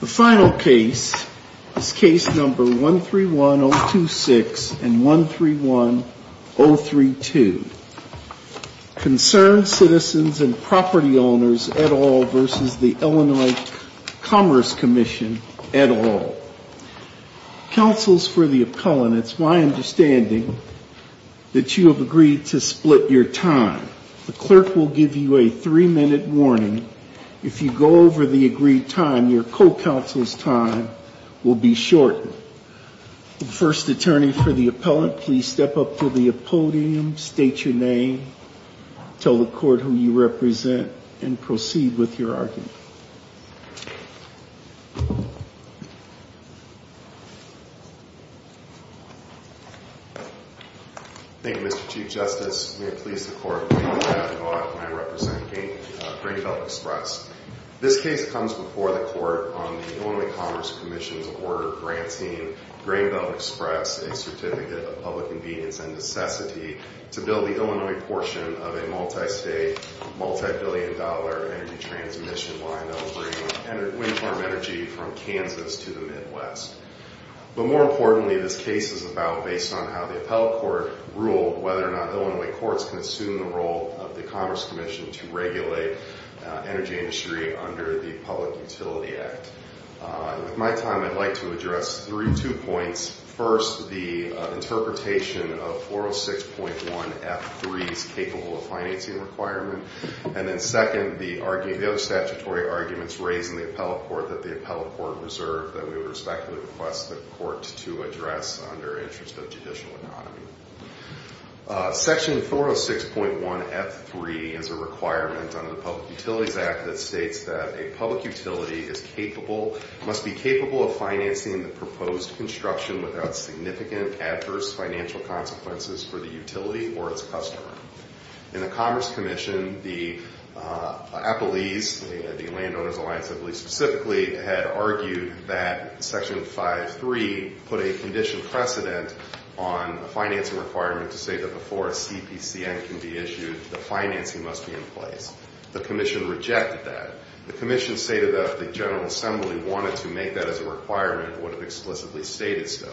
The final case is case number 131026 and 131032. Concerned Citizens & Property Owners et al. v. Illinois Commerce Comm'n et al. Councils for the Appellant, it's my understanding that you have agreed to split your time. The clerk will give you a three-minute warning. If you go over the agreed time, your co-counsel's time will be shortened. First attorney for the appellant, please step up to the podium, state your name, tell the court who you represent, and proceed with your argument. Thank you, Mr. Chief Justice. May it please the court, I am representing Grain Belt Express. This case comes before the court on the Illinois Commerce Commission's order granting Grain Belt Express a Certificate of Public Convenience and Necessity to build the Illinois portion of a multi-state, multi-billion dollar energy transmission line that will bring wind farm energy from Kansas to the Midwest. But more importantly, this case is about based on how the appellate court ruled whether or not Illinois courts can assume the role of the Commerce Commission to regulate energy industry under the Public Utility Act. With my time, I'd like to address three, two points. First, the interpretation of 406.1 F3's capable of financing requirement. And then second, the other statutory arguments raised in the appellate court that the appellate court reserved that we would respectfully request the court to address under interest of judicial autonomy. Section 406.1 F3 is a requirement under the Public Utilities Act that states that a public without significant adverse financial consequences for the utility or its customer. In the Commerce Commission, the appellees, the Landowners Alliance appellees specifically, had argued that Section 503 put a condition precedent on the financing requirement to say that before a CPCM can be issued, the financing must be in place. The commission rejected that. The commission stated that the General Assembly wanted to make that as a requirement, would have explicitly stated so.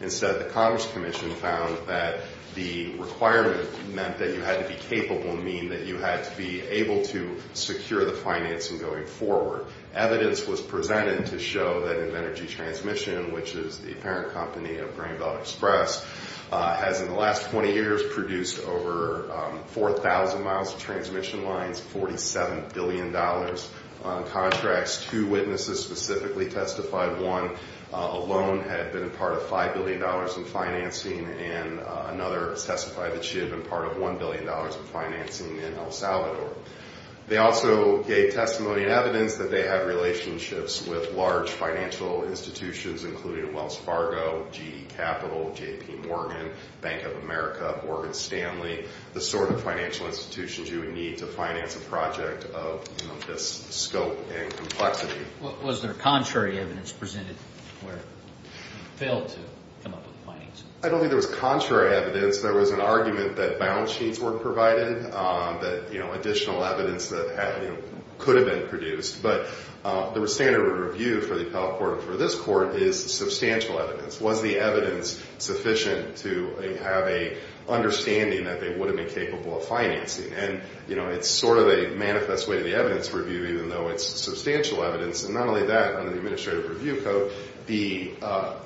Instead, the Commerce Commission found that the requirement meant that you had to be capable and mean that you had to be able to secure the financing going forward. Evidence was presented to show that Invenergy Transmission, which is the parent company of Grain Belt Express, has in the last 20 years produced over 4,000 miles of transmission lines, $47 billion in contracts. Two witnesses specifically testified. One alone had been a part of $5 billion in financing, and another testified that she had been part of $1 billion in financing in El Salvador. They also gave testimony and evidence that they had relationships with large financial institutions, including Wells Fargo, GE Capital, J.P. Morgan, Bank of America, Morgan Stanley, the sort of financial institutions you would need to finance a project of this scope and complexity. Was there contrary evidence presented where you failed to come up with findings? I don't think there was contrary evidence. There was an argument that balance sheets weren't provided, that additional evidence that could have been produced. But the standard of review for the appellate court and for this court is substantial evidence. Was the evidence sufficient to have an understanding that they would have been capable of financing? And, you know, it's sort of a manifest way to the evidence review, even though it's substantial evidence. And not only that, under the Administrative Review Code, the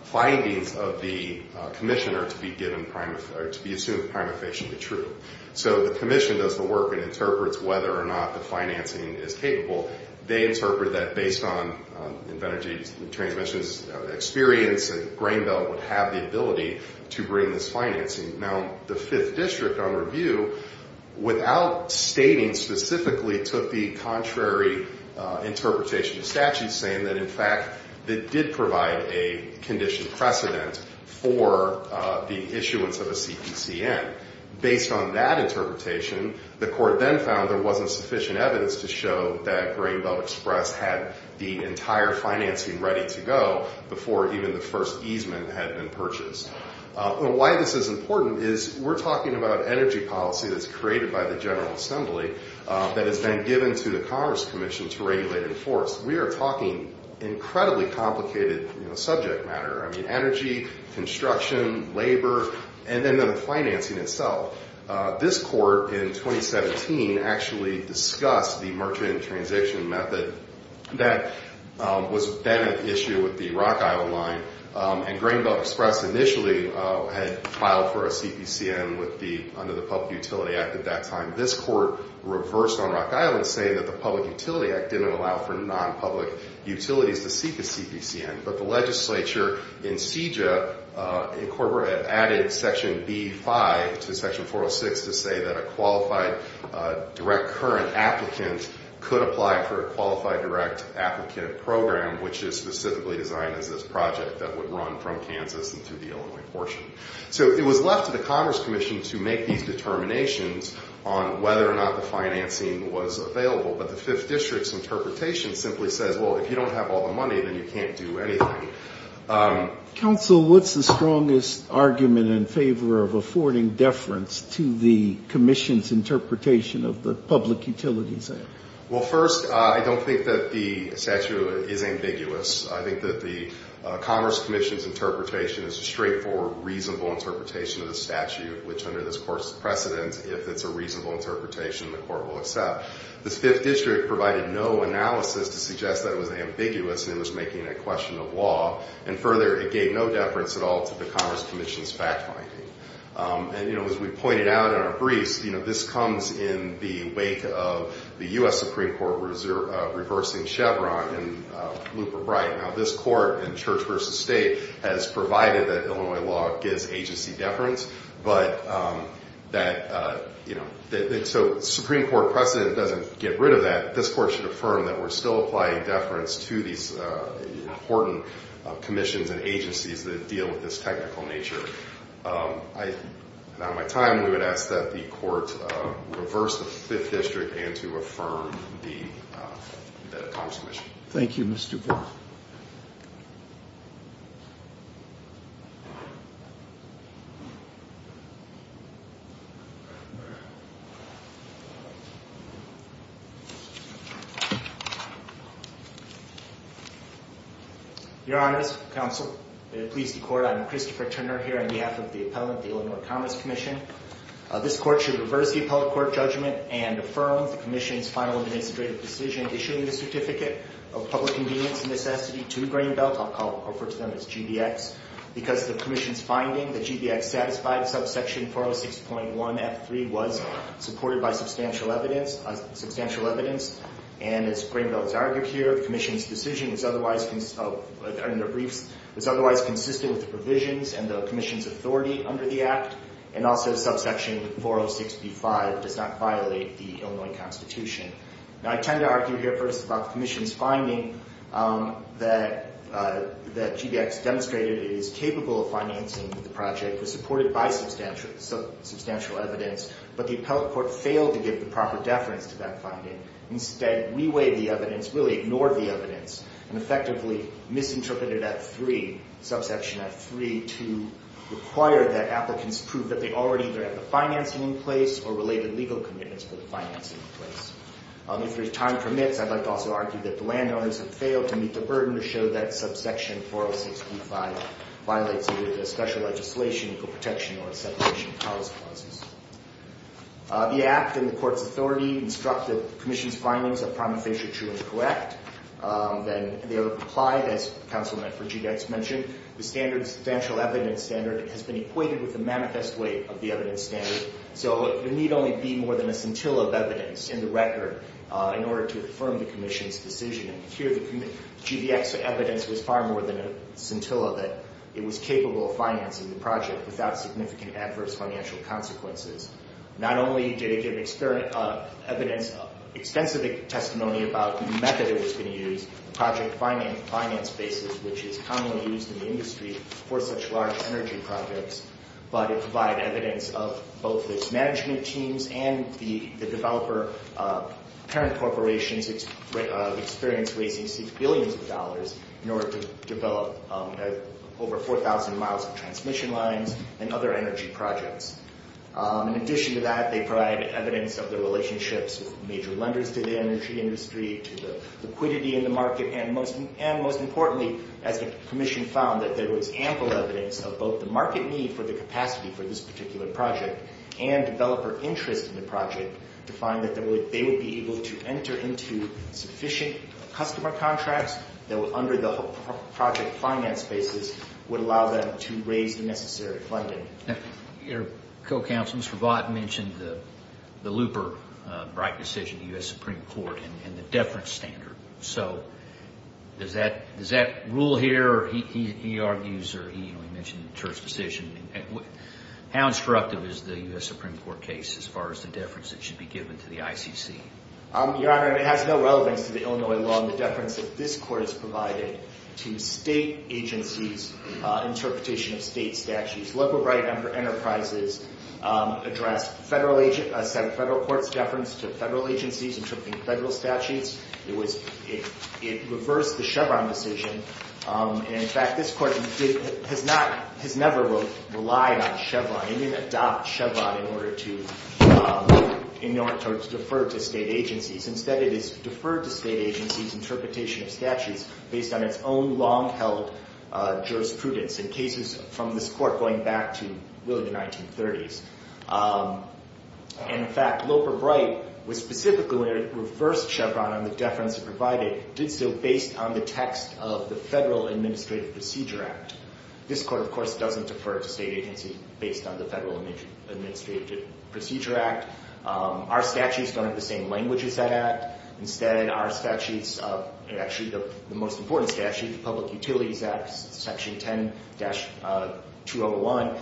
findings of the commissioner are to be assumed to be prima facie true. So the commission does the work and interprets whether or not the financing is capable. They interpret that based on Invenergy Transmission's experience and Grain Belt would have the ability to bring this financing. Now, the Fifth District, on review, without stating specifically, took the contrary interpretation of statute, saying that, in fact, it did provide a condition precedent for the issuance of a CPCN. Based on that interpretation, the court then found there wasn't sufficient evidence to show that Grain Belt Express had the entire financing ready to go before even the first easement had been purchased. And why this is important is we're talking about energy policy that's created by the General Assembly that has been given to the Commerce Commission to regulate and enforce. We are talking incredibly complicated subject matter. I mean, energy, construction, labor, and then the financing itself. This court, in 2017, actually discussed the merchant and transition method that was then an issue with the Rock Island line. And Grain Belt Express initially had filed for a CPCN under the Public Utility Act at that time. This court reversed on Rock Island, saying that the Public Utility Act didn't allow for non-public utilities to seek a CPCN. But the legislature in CEJA incorporated, added Section B-5 to Section 406 to say that a qualified direct current applicant could apply for a qualified direct applicant program, which is specifically designed as this project that would run from Kansas into the Illinois portion. So it was left to the Commerce Commission to make these determinations on whether or not the financing was available. But the Fifth District's interpretation simply says, well, if you don't have all the money, then you can't do anything. Counsel, what's the strongest argument in favor of affording deference to the Commission's interpretation of the Public Utilities Act? Well, first, I don't think that the statute is ambiguous. I think that the Commerce Commission's interpretation is a straightforward, reasonable interpretation of the statute, which under this Court's precedent, if it's a reasonable interpretation, the Court will accept. This Fifth District provided no analysis to suggest that it was ambiguous and it was making a question of law. And further, it gave no deference at all to the Commerce Commission's fact-finding. And, you know, as we pointed out in our briefs, you know, this comes in the wake of the U.S. Supreme Court reversing Chevron in Luper-Bright. Now, this Court in Church v. State has provided that Illinois law gives agency deference. But that, you know, so Supreme Court precedent doesn't get rid of that. This Court should affirm that we're still applying deference to these important commissions and agencies that deal with this technical nature. I, on my time, we would ask that the Court reverse the Fifth District and to affirm the Commerce Commission. Thank you, Mr. Bull. Your Honors, Counsel, please decourt. I'm Christopher Turner here on behalf of the appellant, the Illinois Commerce Commission. This Court should reverse the appellate court judgment and affirm the commission's final administrative decision issuing the Certificate of Public Convenience and Necessity to Greenbelt. I'll refer to them as GBX because the commission's finding that GBX satisfied subsection 406.1F3 was supported by substantial evidence. And as Greenbelt has argued here, the commission's decision is otherwise consistent with the provisions and the commission's authority under the Act. And also subsection 406B5 does not violate the Illinois Constitution. Now, I tend to argue here first about the commission's finding that GBX demonstrated it is capable of financing the project, was supported by substantial evidence, but the appellate court failed to give the proper deference to that finding. Instead, reweighed the evidence, really ignored the evidence, and effectively misinterpreted F3, subsection F3, to require that applicants prove that they already either have the financing in place or related legal commitments for the financing in place. If there's time permits, I'd like to also argue that the landowners have failed to meet the burden to show that subsection 406B5 violates either the special legislation, equal protection, or a separation of powers clauses. The Act and the Court's authority instruct that the commission's findings are prima facie true and correct. And they are applied, as Counselman for GBX mentioned. The standard substantial evidence standard has been equated with the manifest way of the evidence standard. So there need only be more than a scintilla of evidence in the record in order to affirm the commission's decision. And here, the GBX evidence was far more than a scintilla that it was capable of financing the project without significant adverse financial consequences. Not only did it give evidence, extensive testimony about the method it was going to use, the project finance basis, which is commonly used in the industry for such large energy projects, but it provided evidence of both its management teams and the developer parent corporations experience raising billions of dollars in order to develop over 4,000 miles of transmission lines and other energy projects. In addition to that, they provided evidence of the relationships of major lenders to the energy industry, to the liquidity in the market, and most importantly, as the commission found, that there was ample evidence of both the market need for the capacity for this particular project and developer interest in the project to find that they would be able to enter into sufficient customer contracts that would, under the project finance basis, would allow them to raise the necessary funding. Your co-counsel, Mr. Vought, mentioned the looper right decision in the U.S. Supreme Court and the deference standard. So does that rule here, or he argues, or he mentioned the terse decision. How instructive is the U.S. Supreme Court case as far as the deference that should be given to the ICC? Your Honor, it has no relevance to the Illinois law and the deference that this court has provided to state agencies' interpretation of state statutes. Local right number enterprises address federal court's deference to federal agencies interpreting federal statutes. It reversed the Chevron decision. In fact, this court has never relied on Chevron. It didn't adopt Chevron in order to defer to state agencies. Instead, it has deferred to state agencies' interpretation of statutes based on its own long-held jurisprudence in cases from this court going back to really the 1930s. And in fact, Loper-Bright was specifically when it reversed Chevron on the deference it provided, did so based on the text of the Federal Administrative Procedure Act. This court, of course, doesn't defer to state agencies based on the Federal Administrative Procedure Act. Our statutes don't have the same language as that act. Instead, our statutes, actually the most important statute, the Public Utilities Act, Section 10-201,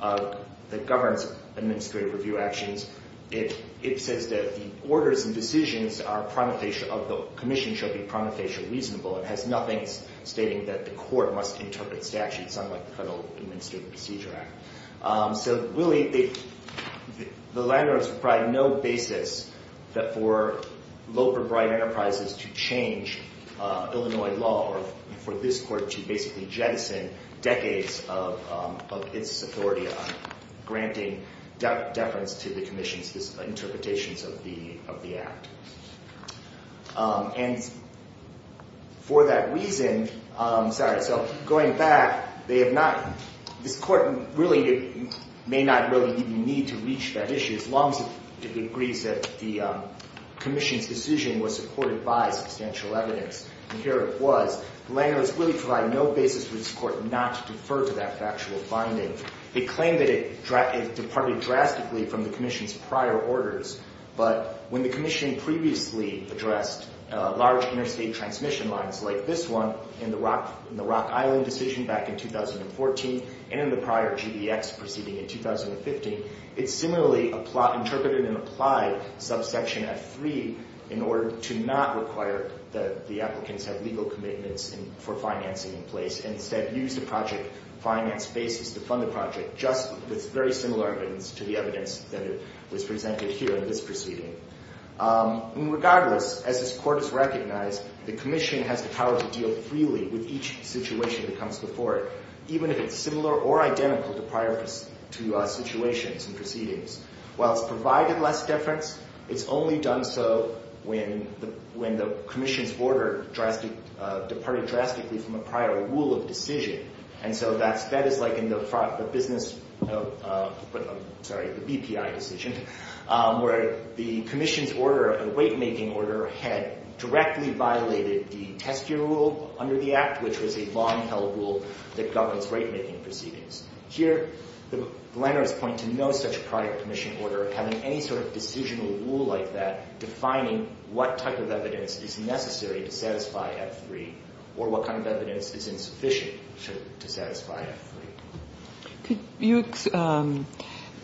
that governs administrative review actions, it says that the orders and decisions of the commission should be prontofacial reasonable. It has nothing stating that the court must interpret statutes unlike the Federal Administrative Procedure Act. So, really, the landowners provide no basis for Loper-Bright Enterprises to change Illinois law or for this court to basically jettison decades of its authority on granting deference to the commission's interpretations of the act. And for that reason, sorry, so going back, this court may not really need to reach that issue as long as it agrees that the commission's decision was supported by substantial evidence. And here it was. Landowners really provide no basis for this court not to defer to that factual finding. They claim that it departed drastically from the commission's prior orders. But when the commission previously addressed large interstate transmission lines like this one in the Rock Island decision back in 2014 and in the prior GDX proceeding in 2015, it similarly interpreted and applied subsection F3 in order to not require that the applicants have legal commitments for financing in place and instead use the project finance basis to fund the project just with very similar evidence to the evidence that was presented here in this proceeding. Regardless, as this court has recognized, the commission has the power to deal freely with each situation that comes before it, even if it's similar or identical to prior situations and proceedings. While it's provided less deference, it's only done so when the commission's order departed drastically from a prior rule of decision. And so that is like in the business, sorry, the BPI decision where the commission's order, a weight-making order, had directly violated the test year rule under the Act, which was a law-and-held rule that governs weight-making proceedings. Here, the landowners point to no such prior commission order having any sort of decisional rule like that defining what type of evidence is necessary to satisfy F3 or what kind of evidence is insufficient to satisfy F3. Could you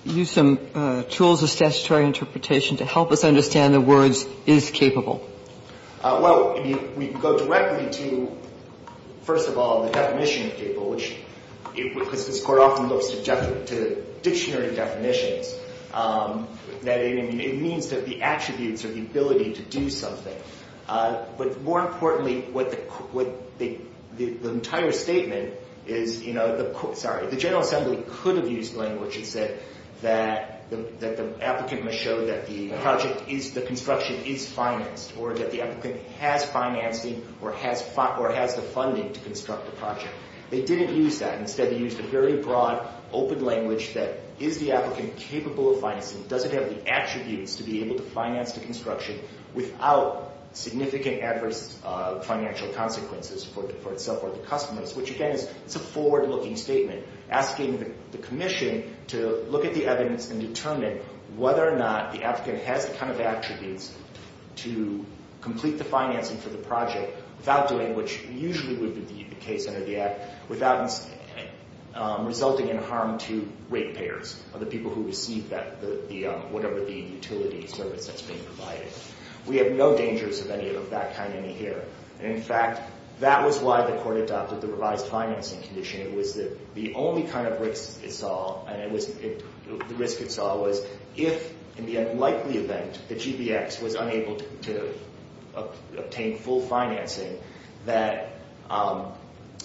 use some tools of statutory interpretation to help us understand the words is capable? Well, I mean, we can go directly to, first of all, the definition of capable, which this Court often looks to dictionary definitions. It means that the attributes or the ability to do something. But more importantly, the entire statement is, you know, sorry, the General Assembly could have used language and said that the applicant must show that the project is, the construction is financed or that the applicant has financing or has the funding to construct the project. They didn't use that. Instead, they used a very broad, open language that is the applicant capable of financing, doesn't have the attributes to be able to finance the construction without significant adverse financial consequences for itself or the customers, which, again, is a forward-looking statement asking the commission to look at the evidence and determine whether or not the applicant has the kind of attributes to complete the financing for the project without doing what usually would be the case under the Act, without resulting in harm to rate payers or the people who receive that, whatever the utility service that's being provided. We have no dangers of any of that kind in here. And, in fact, that was why the Court adopted the revised financing condition. It was the only kind of risk it saw, and the risk it saw was if, in the unlikely event, the GBX was unable to obtain full financing, that,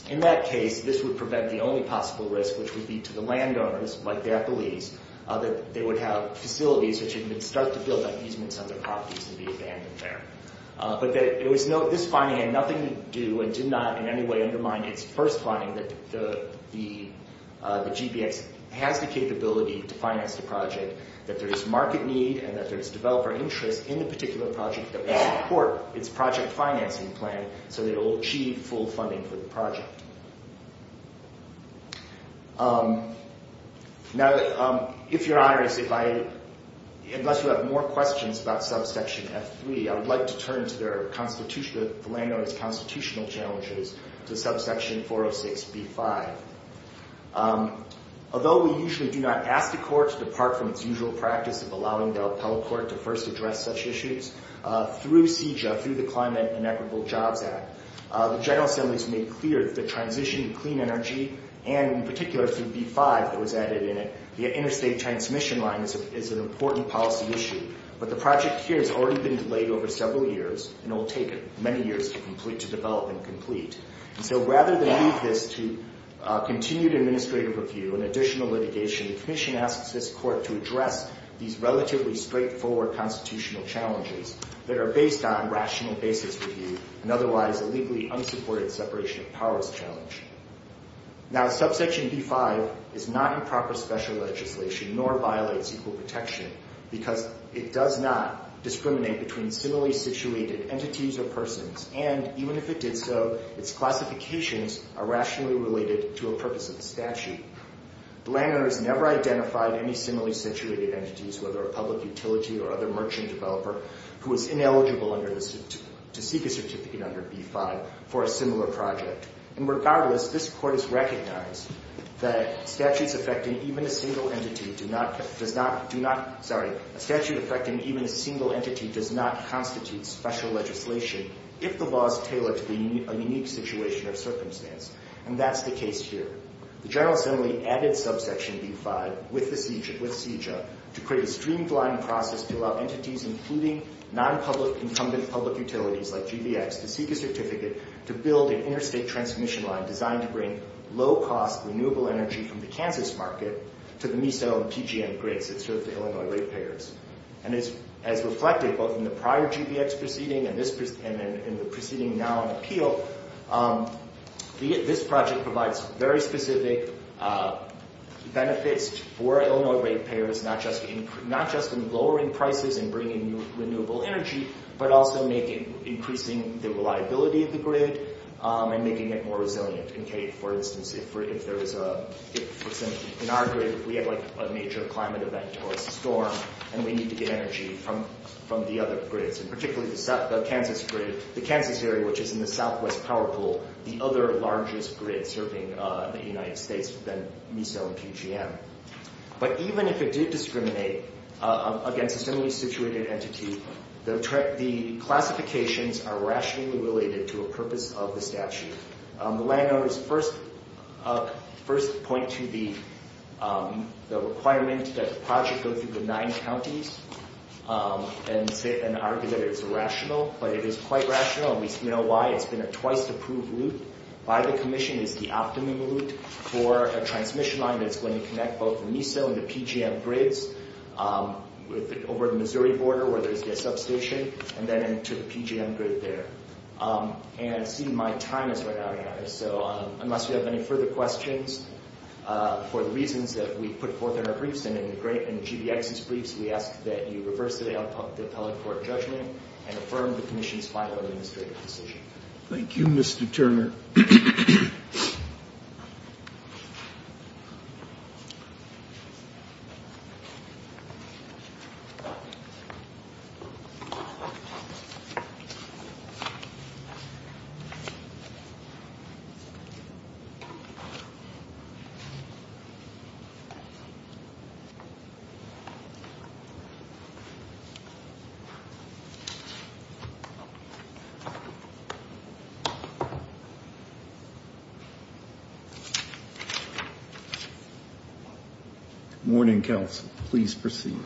in that case, this would prevent the only possible risk, which would be to the landowners, like their beliefs, that they would have facilities which had been stuck to build up easements on their properties to be abandoned there. But this finding had nothing to do and did not in any way undermine its first finding, that the GBX has the capability to finance the project, that there is market need and that there is developer interest in the particular project and support its project financing plan so that it will achieve full funding for the project. Now, if Your Honor, unless you have more questions about subsection F3, I would like to turn to the landowners' constitutional challenges to subsection 406B5. Although we usually do not ask the Court to depart from its usual practice of allowing the appellate court to first address such issues, through CJAW, through the Climate and Equitable Jobs Act, the General Assembly has made clear that the transition to clean energy, and in particular through B5 that was added in it, the interstate transmission line is an important policy issue. But the project here has already been delayed over several years, and it will take many years to develop and complete. And so rather than leave this to continued administrative review and additional litigation, the Commission asks this Court to address these relatively straightforward constitutional challenges that are based on rational basis review and otherwise a legally unsupported separation of powers challenge. Now, subsection B5 is not improper special legislation nor violates equal protection because it does not discriminate between similarly situated entities or persons, and even if it did so, its classifications are rationally related to a purpose of the statute. The landowner has never identified any similarly situated entities, whether a public utility or other merchant developer, who is ineligible to seek a certificate under B5 for a similar project. And regardless, this Court has recognized that statutes affecting even a single entity does not constitute special legislation if the law is tailored to a unique situation or circumstance, and that's the case here. The General Assembly added subsection B5 with CEJA to create a streamlined process to allow entities, including non-public incumbent public utilities like GVX, to seek a certificate to build an interstate transmission line designed to bring low-cost renewable energy from the Kansas market to the meso and PGM grids that serve the Illinois ratepayers. And as reflected both in the prior GVX proceeding and in the proceeding now on appeal, this project provides very specific benefits for Illinois ratepayers, not just in lowering prices and bringing renewable energy, but also increasing the reliability of the grid and making it more resilient. For instance, if in our grid we have a major climate event or a storm and we need to get energy from the other grids, and particularly the Kansas grid, the Kansas area, which is in the southwest power pool, the other largest grid serving the United States would then meso and PGM. But even if it did discriminate against a similarly situated entity, the classifications are rationally related to a purpose of the statute. The landowners first point to the requirement that the project go through the nine counties and argue that it is rational, but it is quite rational, and we know why. It's been a twice-approved route by the commission. It's the optimum route for a transmission line that's going to connect both the meso and the PGM grids over the Missouri border where there's a substation, and then into the PGM grid there. And see, my time is running out, so unless you have any further questions, for the reasons that we put forth in our briefs and in GVX's briefs, we ask that you reverse the appellate court judgment and affirm the commission's final administrative decision. Thank you, Mr. Turner. Morning, counsel. Please proceed.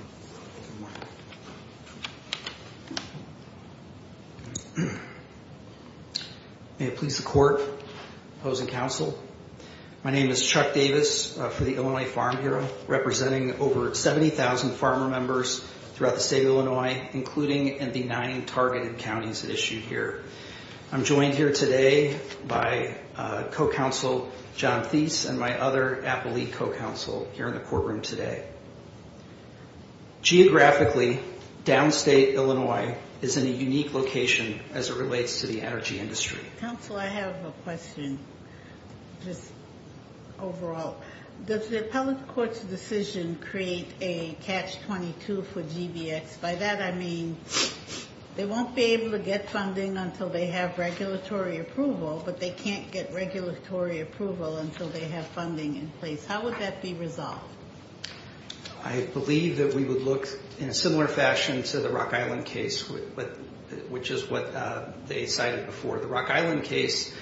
May it please the court, opposing counsel, my name is Chuck Davis for the Illinois Farm Bureau, representing over 70,000 farmer members throughout the state of Illinois, including in the nine targeted counties issued here. I'm joined here today by co-counsel John Thies and my other appellee co-counsel here in the courtroom today. Geographically, downstate Illinois is in a unique location as it relates to the energy industry. Counsel, I have a question, just overall. Does the appellate court's decision create a catch-22 for GVX? By that I mean they won't be able to get funding until they have regulatory approval, but they can't get regulatory approval until they have funding in place. How would that be resolved? I believe that we would look in a similar fashion to the Rock Island case, which is what they cited before. The Rock Island case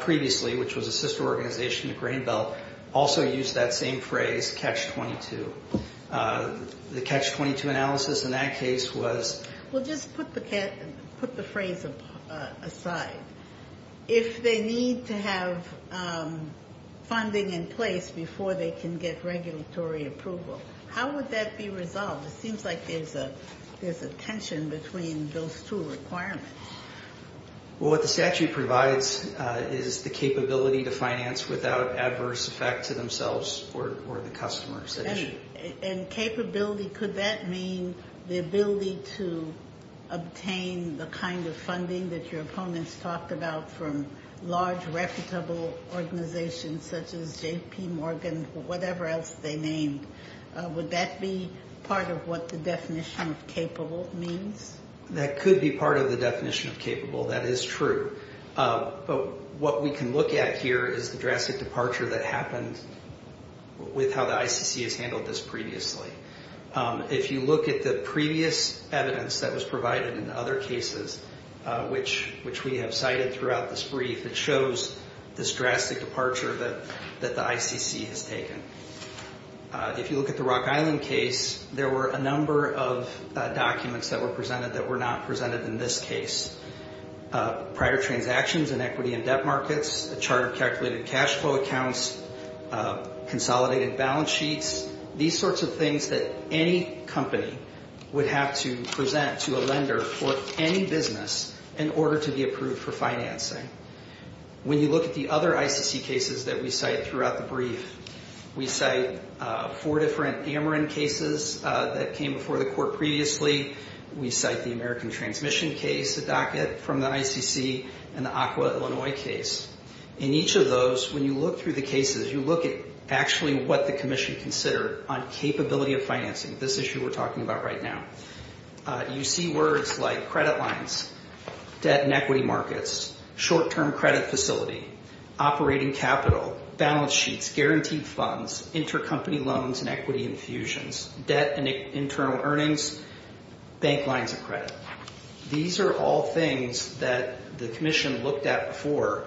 previously, which was a sister organization to Grain Belt, also used that same phrase, catch-22. The catch-22 analysis in that case was? Well, just put the phrase aside. If they need to have funding in place before they can get regulatory approval, how would that be resolved? It seems like there's a tension between those two requirements. Well, what the statute provides is the capability to finance without adverse effects to themselves or the customers. And capability, could that mean the ability to obtain the kind of funding that your opponents talked about from large, reputable organizations such as JP Morgan or whatever else they named? Would that be part of what the definition of capable means? That could be part of the definition of capable. That is true. But what we can look at here is the drastic departure that happened with how the ICC has handled this previously. If you look at the previous evidence that was provided in other cases, which we have cited throughout this brief, it shows this drastic departure that the ICC has taken. If you look at the Rock Island case, there were a number of documents that were presented that were not presented in this case. Prior transactions in equity and debt markets, a chart of calculated cash flow accounts, consolidated balance sheets, these sorts of things that any company would have to present to a lender for any business in order to be approved for financing. When you look at the other ICC cases that we cite throughout the brief, we cite four different Ameren cases that came before the court previously. We cite the American Transmission case, the docket from the ICC, and the Aqua Illinois case. In each of those, when you look through the cases, you look at actually what the commission considered on capability of financing, this issue we're talking about right now. You see words like credit lines, debt and equity markets, short-term credit facility, operating capital, balance sheets, guaranteed funds, intercompany loans and equity infusions, debt and internal earnings, bank lines of credit. These are all things that the commission looked at before,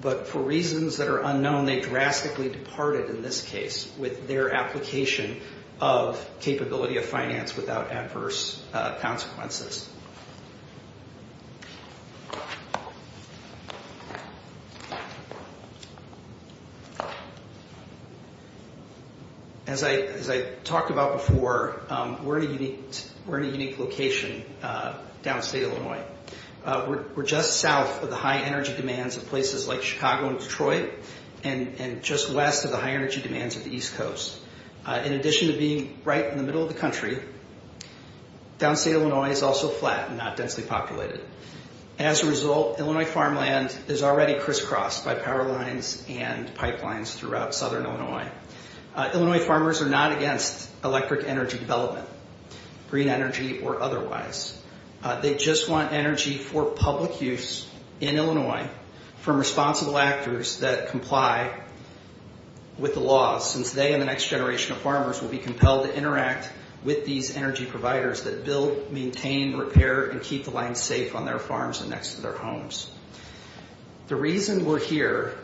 but for reasons that are unknown, they drastically departed in this case with their application of capability of finance without adverse consequences. As I talked about before, we're in a unique location downstate Illinois. We're just south of the high energy demands of places like Chicago and Detroit and just west of the high energy demands of the East Coast. In addition to being right in the middle of the country, downstate Illinois is also flat and not densely populated. As a result, Illinois farmland is already crisscrossed by power lines and pipelines throughout southern Illinois. Illinois farmers are not against electric energy development, green energy or otherwise. They just want energy for public use in Illinois from responsible actors that comply with the laws since they and the next generation of farmers will be compelled to interact with these energy providers that build, maintain, repair and keep the land safe on their farms and next to their homes. The reason we're here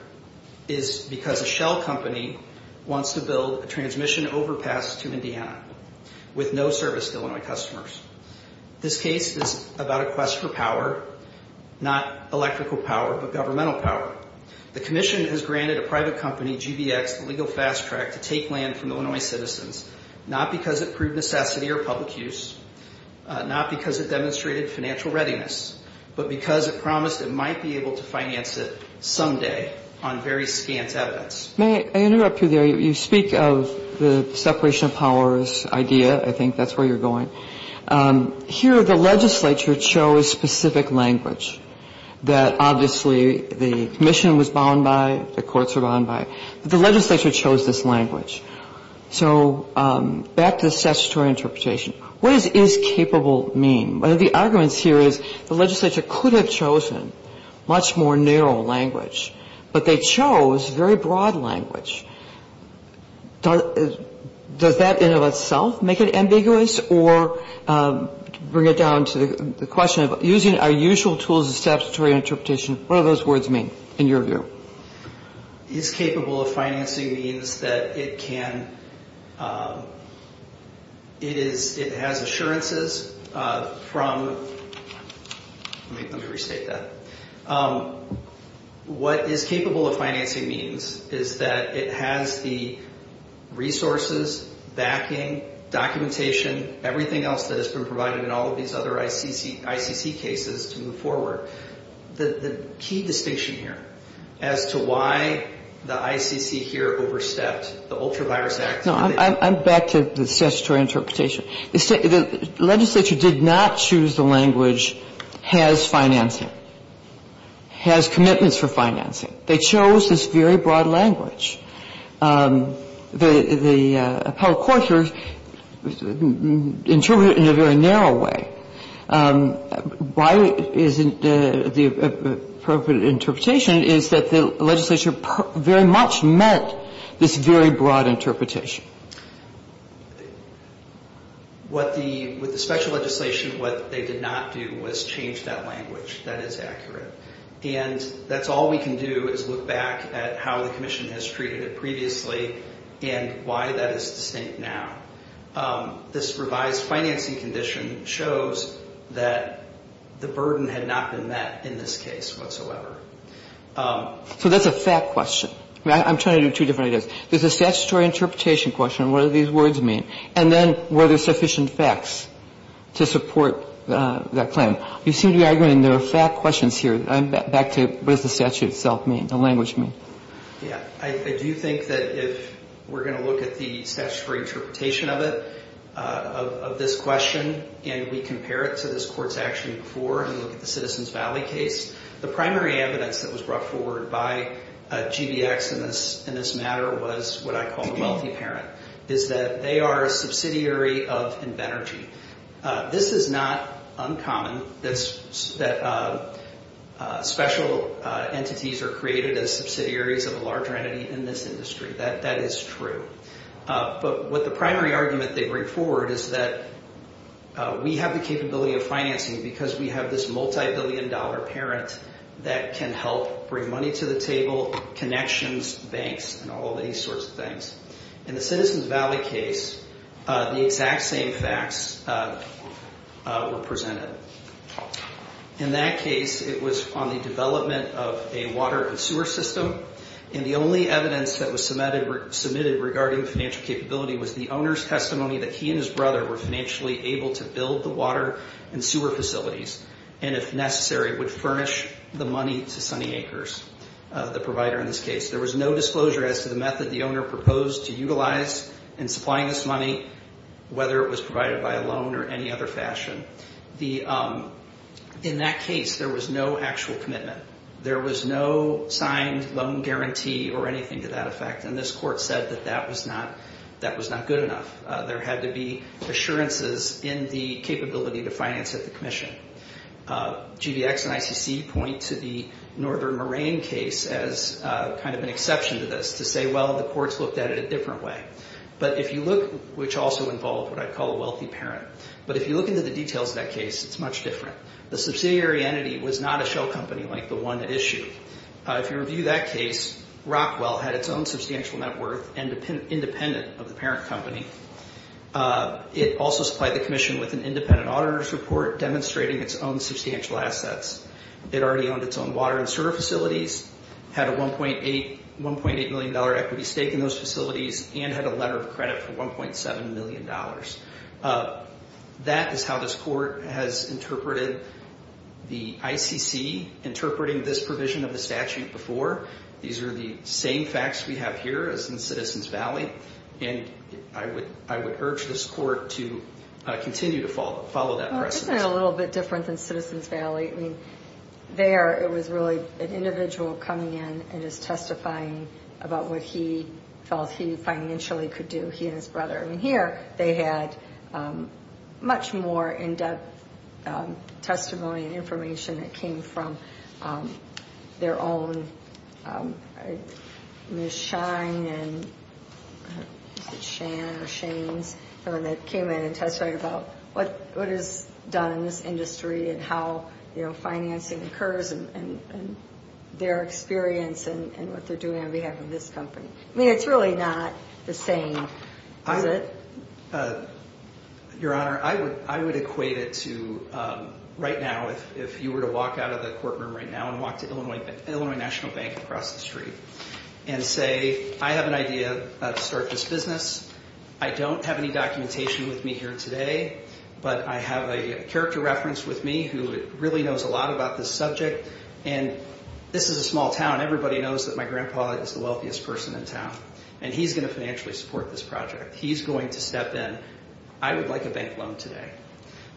is because a shell company wants to build a transmission overpass to Indiana with no service to Illinois customers. This case is about a quest for power, not electrical power, but governmental power. The commission has granted a private company, GBX, the legal fast track to take land from Illinois citizens, not because it proved necessity or public use, not because it demonstrated financial readiness, but because it promised it might be able to finance it someday on very scant evidence. I interrupted you there. You speak of the separation of powers idea. I think that's where you're going. Here the legislature chose specific language that obviously the commission was bound by, the courts were bound by. The legislature chose this language. So back to the statutory interpretation. What does is capable mean? One of the arguments here is the legislature could have chosen much more narrow language, but they chose very broad language. Does that in and of itself make it ambiguous or bring it down to the question of using our usual tools of statutory interpretation, what do those words mean in your view? Is capable of financing means that it can, it is, it has assurances from, let me restate that. What is capable of financing means is that it has the resources, backing, documentation, everything else that has been provided in all of these other ICC cases to move forward. The key distinction here as to why the ICC here overstepped the Ultra Virus Act. No, I'm back to the statutory interpretation. The legislature did not choose the language has financing, has commitments for financing. They chose this very broad language. The appellate court here interpreted it in a very narrow way. Why isn't the appropriate interpretation is that the legislature very much meant this very broad interpretation. With the special legislation, what they did not do was change that language that is accurate. And that's all we can do is look back at how the commission has treated it previously and why that is distinct now. This revised financing condition shows that the burden had not been met in this case whatsoever. So that's a fact question. I'm trying to do two different ideas. There's a statutory interpretation question. What do these words mean? And then were there sufficient facts to support that claim? You seem to be arguing there are fact questions here. I'm back to what does the statute itself mean, the language mean? Yeah. I do think that if we're going to look at the statutory interpretation of it, of this question, and we compare it to this Court's action before and look at the Citizens Valley case, the primary evidence that was brought forward by GBX in this matter was what I call the wealthy parent, is that they are a subsidiary of Invenergy. This is not uncommon that special entities are created as subsidiaries of a larger entity in this industry. That is true. But what the primary argument they bring forward is that we have the capability of financing because we have this multibillion-dollar parent that can help bring money to the table, connections, banks, and all these sorts of things. In the Citizens Valley case, the exact same facts were presented. In that case, it was on the development of a water and sewer system, and the only evidence that was submitted regarding financial capability was the owner's testimony that he and his brother were financially able to build the water and sewer facilities and, if necessary, would furnish the money to Sunny Acres, the provider in this case. There was no disclosure as to the method the owner proposed to utilize in supplying this money, whether it was provided by a loan or any other fashion. In that case, there was no actual commitment. There was no signed loan guarantee or anything to that effect, and this court said that that was not good enough. There had to be assurances in the capability to finance at the commission. GDX and ICC point to the Northern Moraine case as kind of an exception to this to say, well, the courts looked at it a different way, which also involved what I'd call a wealthy parent. But if you look into the details of that case, it's much different. The subsidiary entity was not a shell company like the one at issue. If you review that case, Rockwell had its own substantial net worth and independent of the parent company. It also supplied the commission with an independent auditor's report demonstrating its own substantial assets. It already owned its own water and sewer facilities, had a $1.8 million equity stake in those facilities, and had a letter of credit for $1.7 million. That is how this court has interpreted the ICC interpreting this provision of the statute before. These are the same facts we have here as in Citizens Valley, and I would urge this court to continue to follow that precedent. Well, isn't it a little bit different than Citizens Valley? I mean, there it was really an individual coming in and just testifying about what he felt he financially could do, he and his brother. Here, they had much more in-depth testimony and information that came from their own Ms. Shine and Shan or Shane's, someone that came in and testified about what is done in this industry and how financing occurs and their experience and what they're doing on behalf of this company. I mean, it's really not the same, is it? Your Honor, I would equate it to right now, if you were to walk out of the courtroom right now and walk to Illinois National Bank across the street and say, I have an idea to start this business. I don't have any documentation with me here today, but I have a character reference with me who really knows a lot about this subject. This is a small town. Everybody knows that my grandpa is the wealthiest person in town, and he's going to financially support this project. He's going to step in. I would like a bank loan today.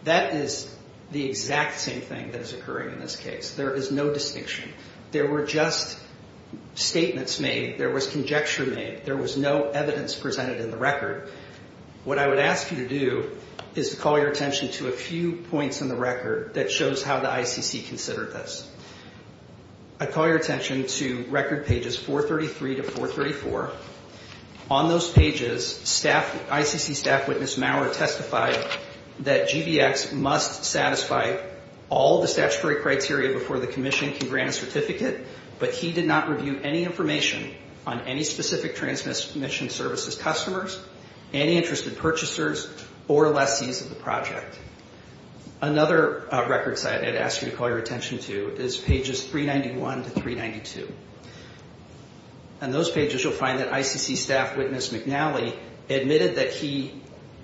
That is the exact same thing that is occurring in this case. There is no distinction. There were just statements made. There was conjecture made. There was no evidence presented in the record. What I would ask you to do is to call your attention to a few points in the record that shows how the ICC considered this. I call your attention to record pages 433 to 434. On those pages, ICC staff witness Maurer testified that GBX must satisfy all the statutory criteria before the commission can grant a certificate, but he did not review any information on any specific transmission services customers, any interested purchasers, or lessees of the project. Another record site I'd ask you to call your attention to is pages 391 to 392. On those pages, you'll find that ICC staff witness McNally admitted that he,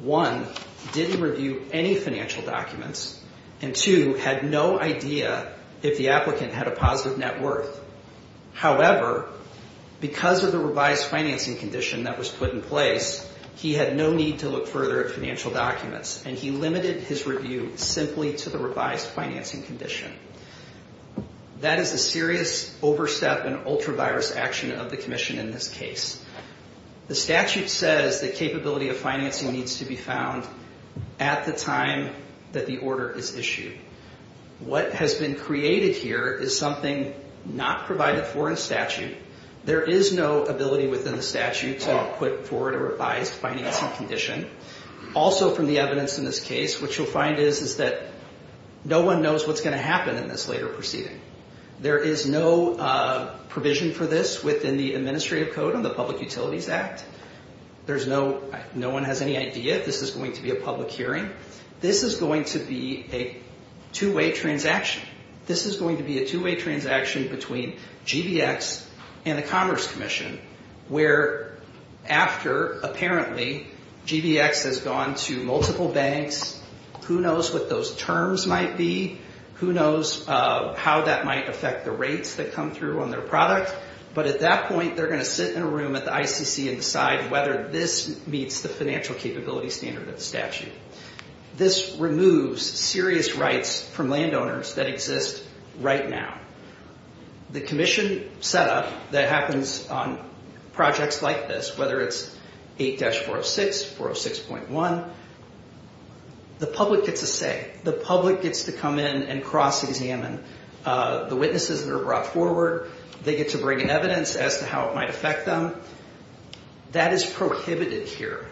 one, didn't review any financial documents, and two, had no idea if the applicant had a positive net worth. However, because of the revised financing condition that was put in place, he had no need to look further at financial documents, and he limited his review simply to the revised financing condition. That is a serious overstep and ultra-virus action of the commission in this case. The statute says the capability of financing needs to be found at the time that the order is issued. What has been created here is something not provided for in statute. There is no ability within the statute to put forward a revised financing condition. Also, from the evidence in this case, what you'll find is that no one knows what's going to happen in this later proceeding. There is no provision for this within the administrative code of the Public Utilities Act. No one has any idea if this is going to be a public hearing. This is going to be a two-way transaction. This is going to be a two-way transaction between GBX and the Commerce Commission, where after, apparently, GBX has gone to multiple banks. Who knows what those terms might be? Who knows how that might affect the rates that come through on their product? But at that point, they're going to sit in a room at the ICC and decide whether this meets the financial capability standard of the statute. This removes serious rights from landowners that exist right now. The commission set up that happens on projects like this, whether it's 8-406, 406.1, the public gets a say. The public gets to come in and cross-examine the witnesses that are brought forward. They get to bring in evidence as to how it might affect them. That is prohibited here.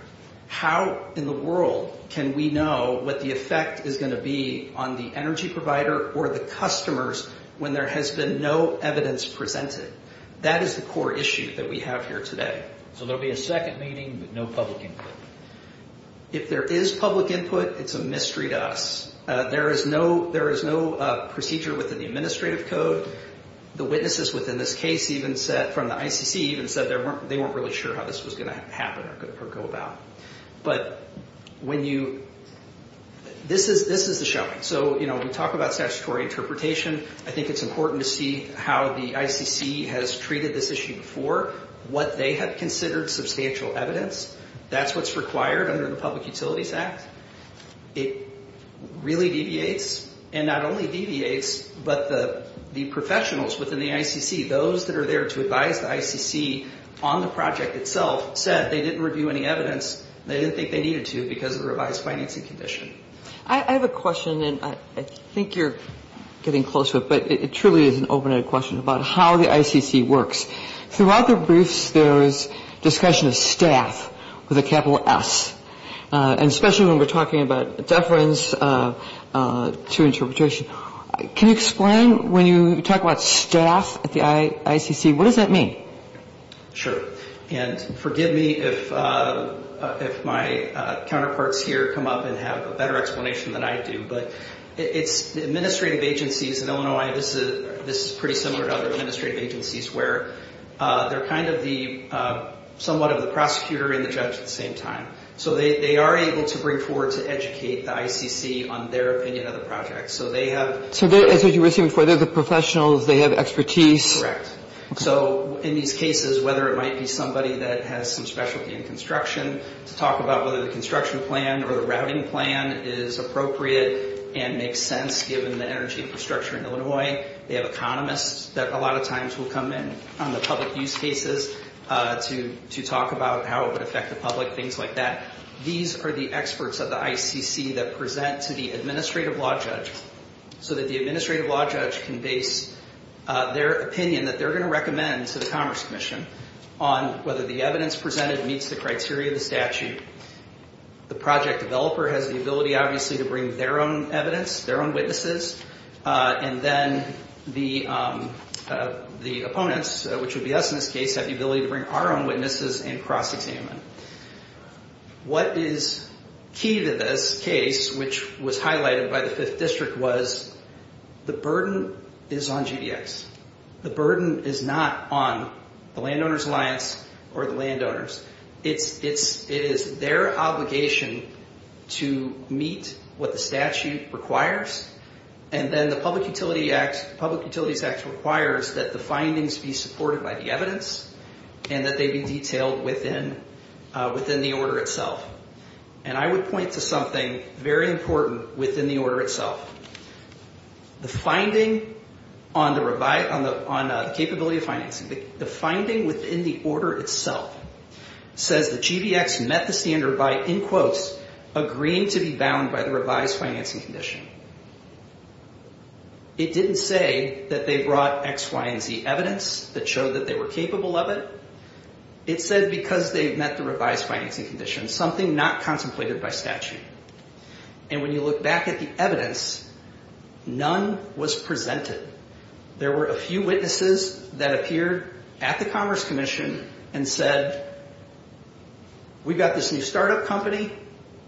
How in the world can we know what the effect is going to be on the energy provider or the customers when there has been no evidence presented? That is the core issue that we have here today. So there will be a second meeting with no public input. If there is public input, it's a mystery to us. There is no procedure within the administrative code. The witnesses within this case even said, from the ICC even said, they weren't really sure how this was going to happen or go about. But this is the showing. So, you know, we talk about statutory interpretation. I think it's important to see how the ICC has treated this issue before, what they have considered substantial evidence. That's what's required under the Public Utilities Act. It really deviates, and not only deviates, but the professionals within the ICC, those that are there to advise the ICC on the project itself, said they didn't review any evidence. They didn't think they needed to because of the revised financing condition. I have a question, and I think you're getting close to it, but it truly is an open-ended question about how the ICC works. Throughout the briefs, there is discussion of staff with a capital S, and especially when we're talking about deference to interpretation. Can you explain when you talk about staff at the ICC, what does that mean? Sure. And forgive me if my counterparts here come up and have a better explanation than I do, but it's the administrative agencies in Illinois, and this is pretty similar to other administrative agencies, where they're kind of the – somewhat of the prosecutor and the judge at the same time. So they are able to bring forward to educate the ICC on their opinion of the project. So they have – So as you were saying before, they're the professionals. They have expertise. Correct. So in these cases, whether it might be somebody that has some specialty in construction, to talk about whether the construction plan or the routing plan is appropriate and makes sense given the energy infrastructure in Illinois. They have economists that a lot of times will come in on the public use cases to talk about how it would affect the public, things like that. These are the experts of the ICC that present to the administrative law judge so that the administrative law judge can base their opinion that they're going to recommend to the Commerce Commission on whether the evidence presented meets the criteria of the statute. The project developer has the ability, obviously, to bring their own evidence, their own witnesses. And then the opponents, which would be us in this case, have the ability to bring our own witnesses and cross-examine them. What is key to this case, which was highlighted by the 5th District, was the burden is on GDX. The burden is not on the Landowners' Alliance or the landowners. It is their obligation to meet what the statute requires. And then the Public Utilities Act requires that the findings be supported by the evidence and that they be detailed within the order itself. And I would point to something very important within the order itself. The finding on the capability of financing, the finding within the order itself, says that GDX met the standard by, in quotes, agreeing to be bound by the revised financing condition. It didn't say that they brought X, Y, and Z evidence that showed that they were capable of it. It said because they met the revised financing condition, something not contemplated by statute. And when you look back at the evidence, none was presented. There were a few witnesses that appeared at the Commerce Commission and said, we've got this new startup company,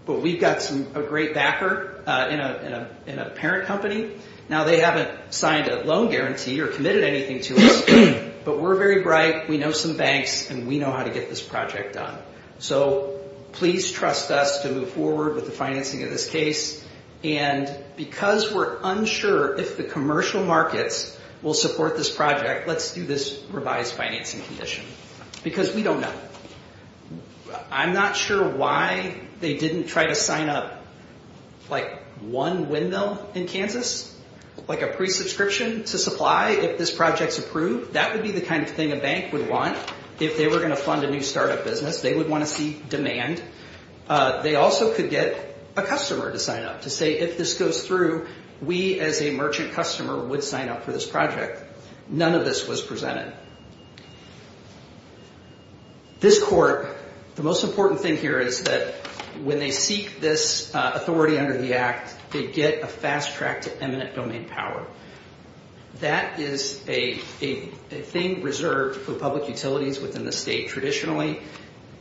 but we've got a great backer in a parent company. Now they haven't signed a loan guarantee or committed anything to us, but we're very bright, we know some banks, and we know how to get this project done. So please trust us to move forward with the financing of this case. And because we're unsure if the commercial markets will support this project, let's do this revised financing condition because we don't know. I'm not sure why they didn't try to sign up like one windmill in Kansas, like a pre-subscription to supply if this project's approved. That would be the kind of thing a bank would want if they were going to fund a new startup business. They would want to see demand. They also could get a customer to sign up to say if this goes through, we as a merchant customer would sign up for this project. None of this was presented. This court, the most important thing here is that when they seek this authority under the act, they get a fast track to eminent domain power. That is a thing reserved for public utilities within the state traditionally,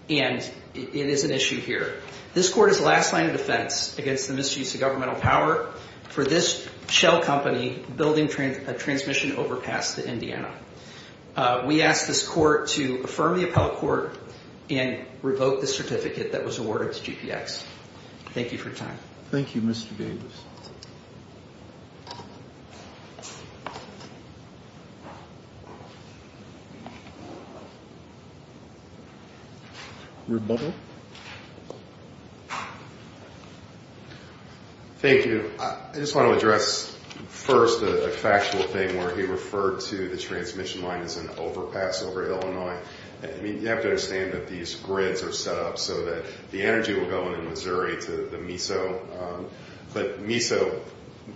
and it is an issue here. This court is the last line of defense against the misuse of governmental power for this shell company building a transmission overpass to Indiana. We ask this court to affirm the appellate court and revoke the certificate that was awarded to GPX. Thank you for your time. Thank you, Mr. Davis. Rebuttal? Thank you. I just want to address first the factual thing where he referred to the transmission line as an overpass over Illinois. You have to understand that these grids are set up so that the energy will go in Missouri to the MISO, but MISO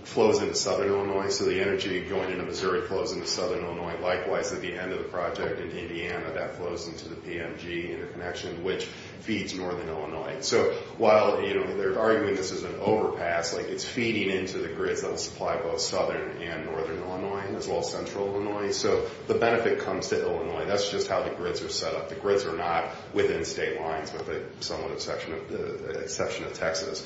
flows into southern Illinois, so the energy going into Missouri flows into southern Illinois. Likewise, at the end of the project in Indiana, that flows into the PMG interconnection, which feeds northern Illinois. So while they're arguing this is an overpass, it's feeding into the grids that will supply both southern and northern Illinois as well as central Illinois. So the benefit comes to Illinois. That's just how the grids are set up. The grids are not within state lines with the somewhat exception of Texas.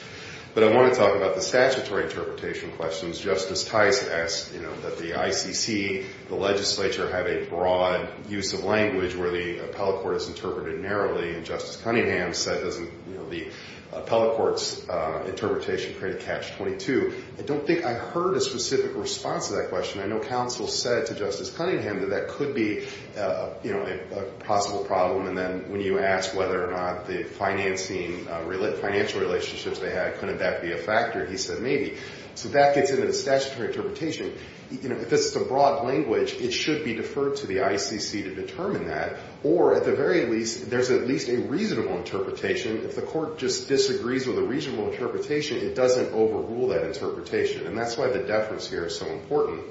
But I want to talk about the statutory interpretation questions. Justice Tice asked that the ICC, the legislature, have a broad use of language where the appellate court is interpreted narrowly, and Justice Cunningham said doesn't the appellate court's interpretation create a catch-22. I don't think I heard a specific response to that question. I know counsel said to Justice Cunningham that that could be a possible problem, and then when you asked whether or not the financing, financial relationships they had, couldn't that be a factor, he said maybe. So that gets into the statutory interpretation. If it's a broad language, it should be deferred to the ICC to determine that, or at the very least there's at least a reasonable interpretation. If the court just disagrees with a reasonable interpretation, it doesn't overrule that interpretation, and that's why the deference here is so important.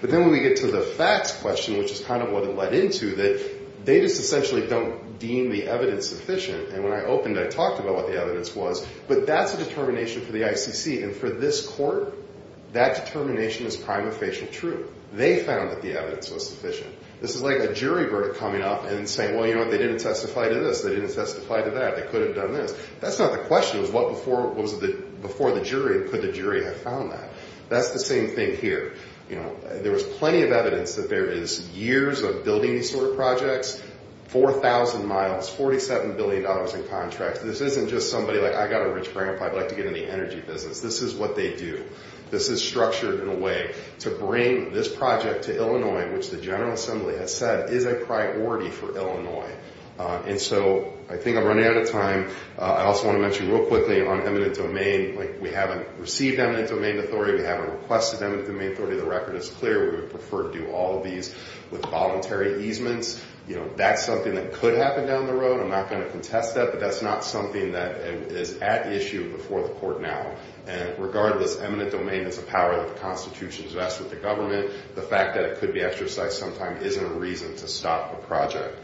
But then when we get to the facts question, which is kind of what it led into, that they just essentially don't deem the evidence sufficient, and when I opened I talked about what the evidence was, but that's a determination for the ICC, and for this court, that determination is prima facie true. They found that the evidence was sufficient. This is like a jury verdict coming up and saying, well, you know what, they didn't testify to this, they didn't testify to that, they could have done this. That's not the question. It was what was before the jury, and could the jury have found that? That's the same thing here. There was plenty of evidence that there is years of building these sort of projects, 4,000 miles, $47 billion in contracts. This isn't just somebody like, I got a rich grandpa, I'd like to get into the energy business. This is what they do. This is structured in a way to bring this project to Illinois, which the General Assembly has said is a priority for Illinois. And so I think I'm running out of time. I also want to mention real quickly on eminent domain, we haven't received eminent domain authority, we haven't requested eminent domain authority. The record is clear. We would prefer to do all of these with voluntary easements. That's something that could happen down the road. I'm not going to contest that, but that's not something that is at issue before the court now. And regardless, eminent domain is a power that the Constitution invests with the government. The fact that it could be exercised sometime isn't a reason to stop a project.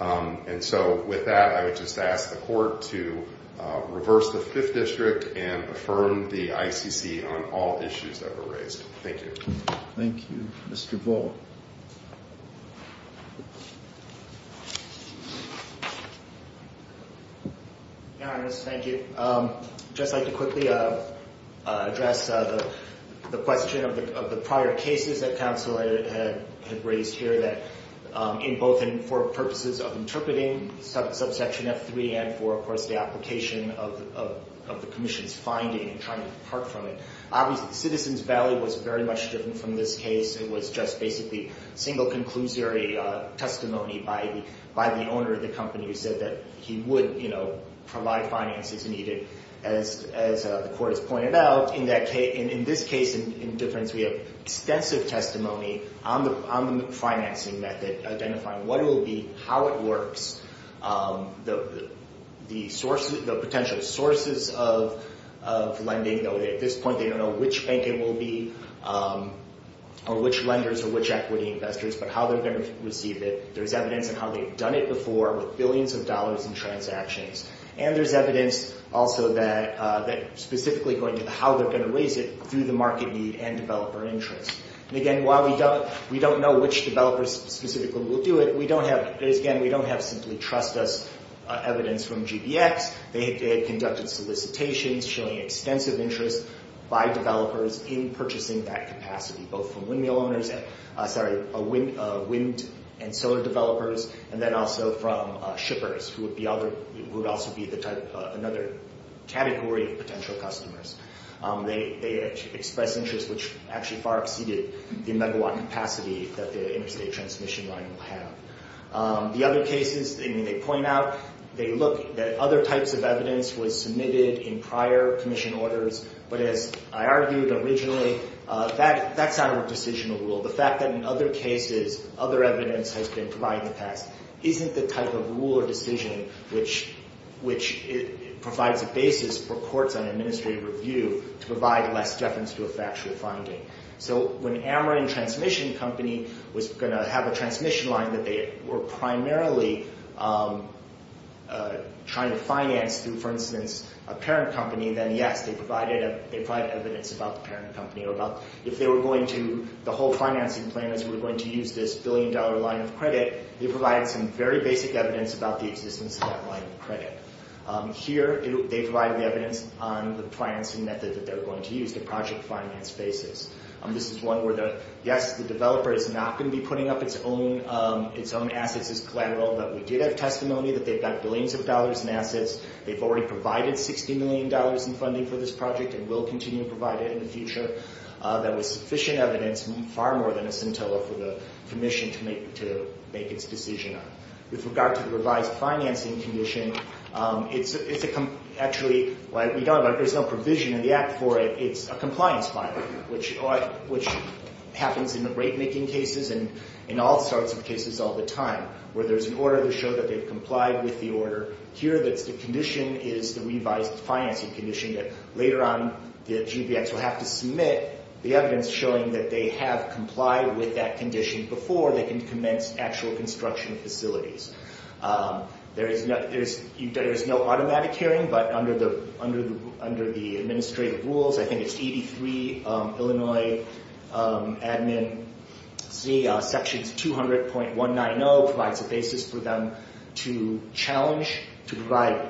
And so with that, I would just ask the court to reverse the Fifth District and affirm the ICC on all issues that were raised. Thank you. Thank you. Mr. Volk. Thank you. I'd just like to quickly address the question of the prior cases that counsel had raised here in both for purposes of interpreting subsection F3 and for, of course, the application of the commission's finding and trying to depart from it. Obviously, citizens' value was very much different from this case. It was just basically single conclusory testimony by the owner of the company who said that he would, you know, provide finances needed. As the court has pointed out, in this case, in difference, we have extensive testimony on the financing method identifying what it will be, how it works, the potential sources of lending. At this point, they don't know which bank it will be or which lenders or which equity investors, but how they're going to receive it. There's evidence on how they've done it before with billions of dollars in transactions. And there's evidence also that specifically going into how they're going to raise it through the market need and developer interest. And again, while we don't know which developers specifically will do it, we don't have, again, we don't have simply trust us evidence from GBX. They had conducted solicitations showing extensive interest by developers in purchasing that capacity, both from windmill owners, sorry, wind and solar developers, and then also from shippers who would also be another category of potential customers. They expressed interest which actually far exceeded the megawatt capacity that the interstate transmission line will have. The other cases, I mean, they point out, they look at other types of evidence was submitted in prior commission orders, but as I argued originally, that's not a decisional rule. The fact that in other cases other evidence has been provided in the past isn't the type of rule or decision which provides a basis for courts on administrative review to provide less deference to a factual finding. So when Ameren Transmission Company was going to have a transmission line that they were primarily trying to finance through, for instance, a parent company, then yes, they provided evidence about the parent company or about if they were going to, the whole financing plan is we're going to use this billion-dollar line of credit. They provided some very basic evidence about the existence of that line of credit. Here, they provided the evidence on the financing method that they're going to use, the project finance basis. This is one where, yes, the developer is not going to be putting up its own assets as collateral, but we did have testimony that they've got billions of dollars in assets. They've already provided $60 million in funding for this project and will continue to provide it in the future. That was sufficient evidence, far more than a centella for the commission to make its decision on. With regard to the revised financing condition, it's actually, there's no provision in the Act for it. It's a compliance filing, which happens in the rate-making cases and in all sorts of cases all the time, where there's an order to show that they've complied with the order. Here, the condition is the revised financing condition that later on, the GBX will have to submit the evidence showing that they have complied with that condition before they can commence actual construction facilities. There is no automatic hearing, but under the administrative rules, I think it's ED3, Illinois Admin, Section 200.190 provides a basis for them to challenge, to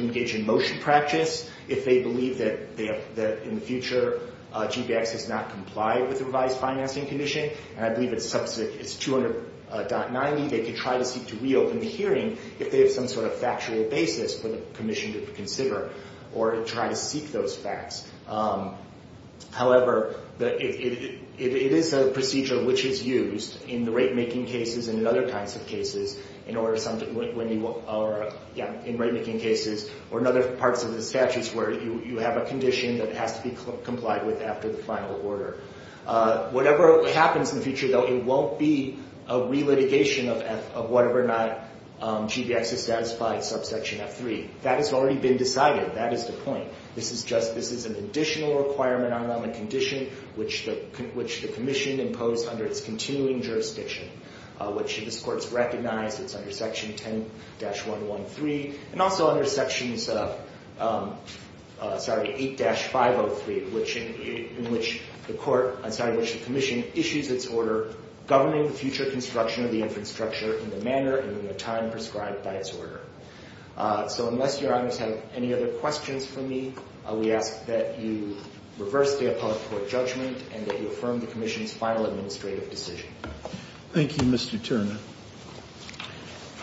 engage in motion practice if they believe that in the future, GBX has not complied with the revised financing condition. I believe it's 200.90, they could try to seek to reopen the hearing if they have some sort of factual basis for the commission to consider or to try to seek those facts. However, it is a procedure which is used in the rate-making cases and in other kinds of cases, in rate-making cases or in other parts of the statutes where you have a condition that has to be complied with after the final order. Whatever happens in the future, though, it won't be a re-litigation of whether or not GBX has satisfied subsection F3. That has already been decided. That is the point. This is just, this is an additional requirement on the condition which the commission imposed under its continuing jurisdiction, which this Court has recognized, it's under Section 10-113, and also under Section 8-503, in which the commission issues its order governing future construction of the infrastructure in the manner and in the time prescribed by its order. So unless Your Honors have any other questions for me, we ask that you reverse the appellate court judgment and that you affirm the commission's final administrative decision. Thank you, Mr. Turner.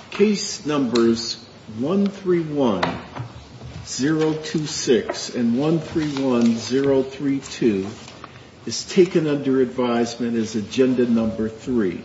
Case Numbers 131026 and 131032 is taken under advisement as Agenda Number 3.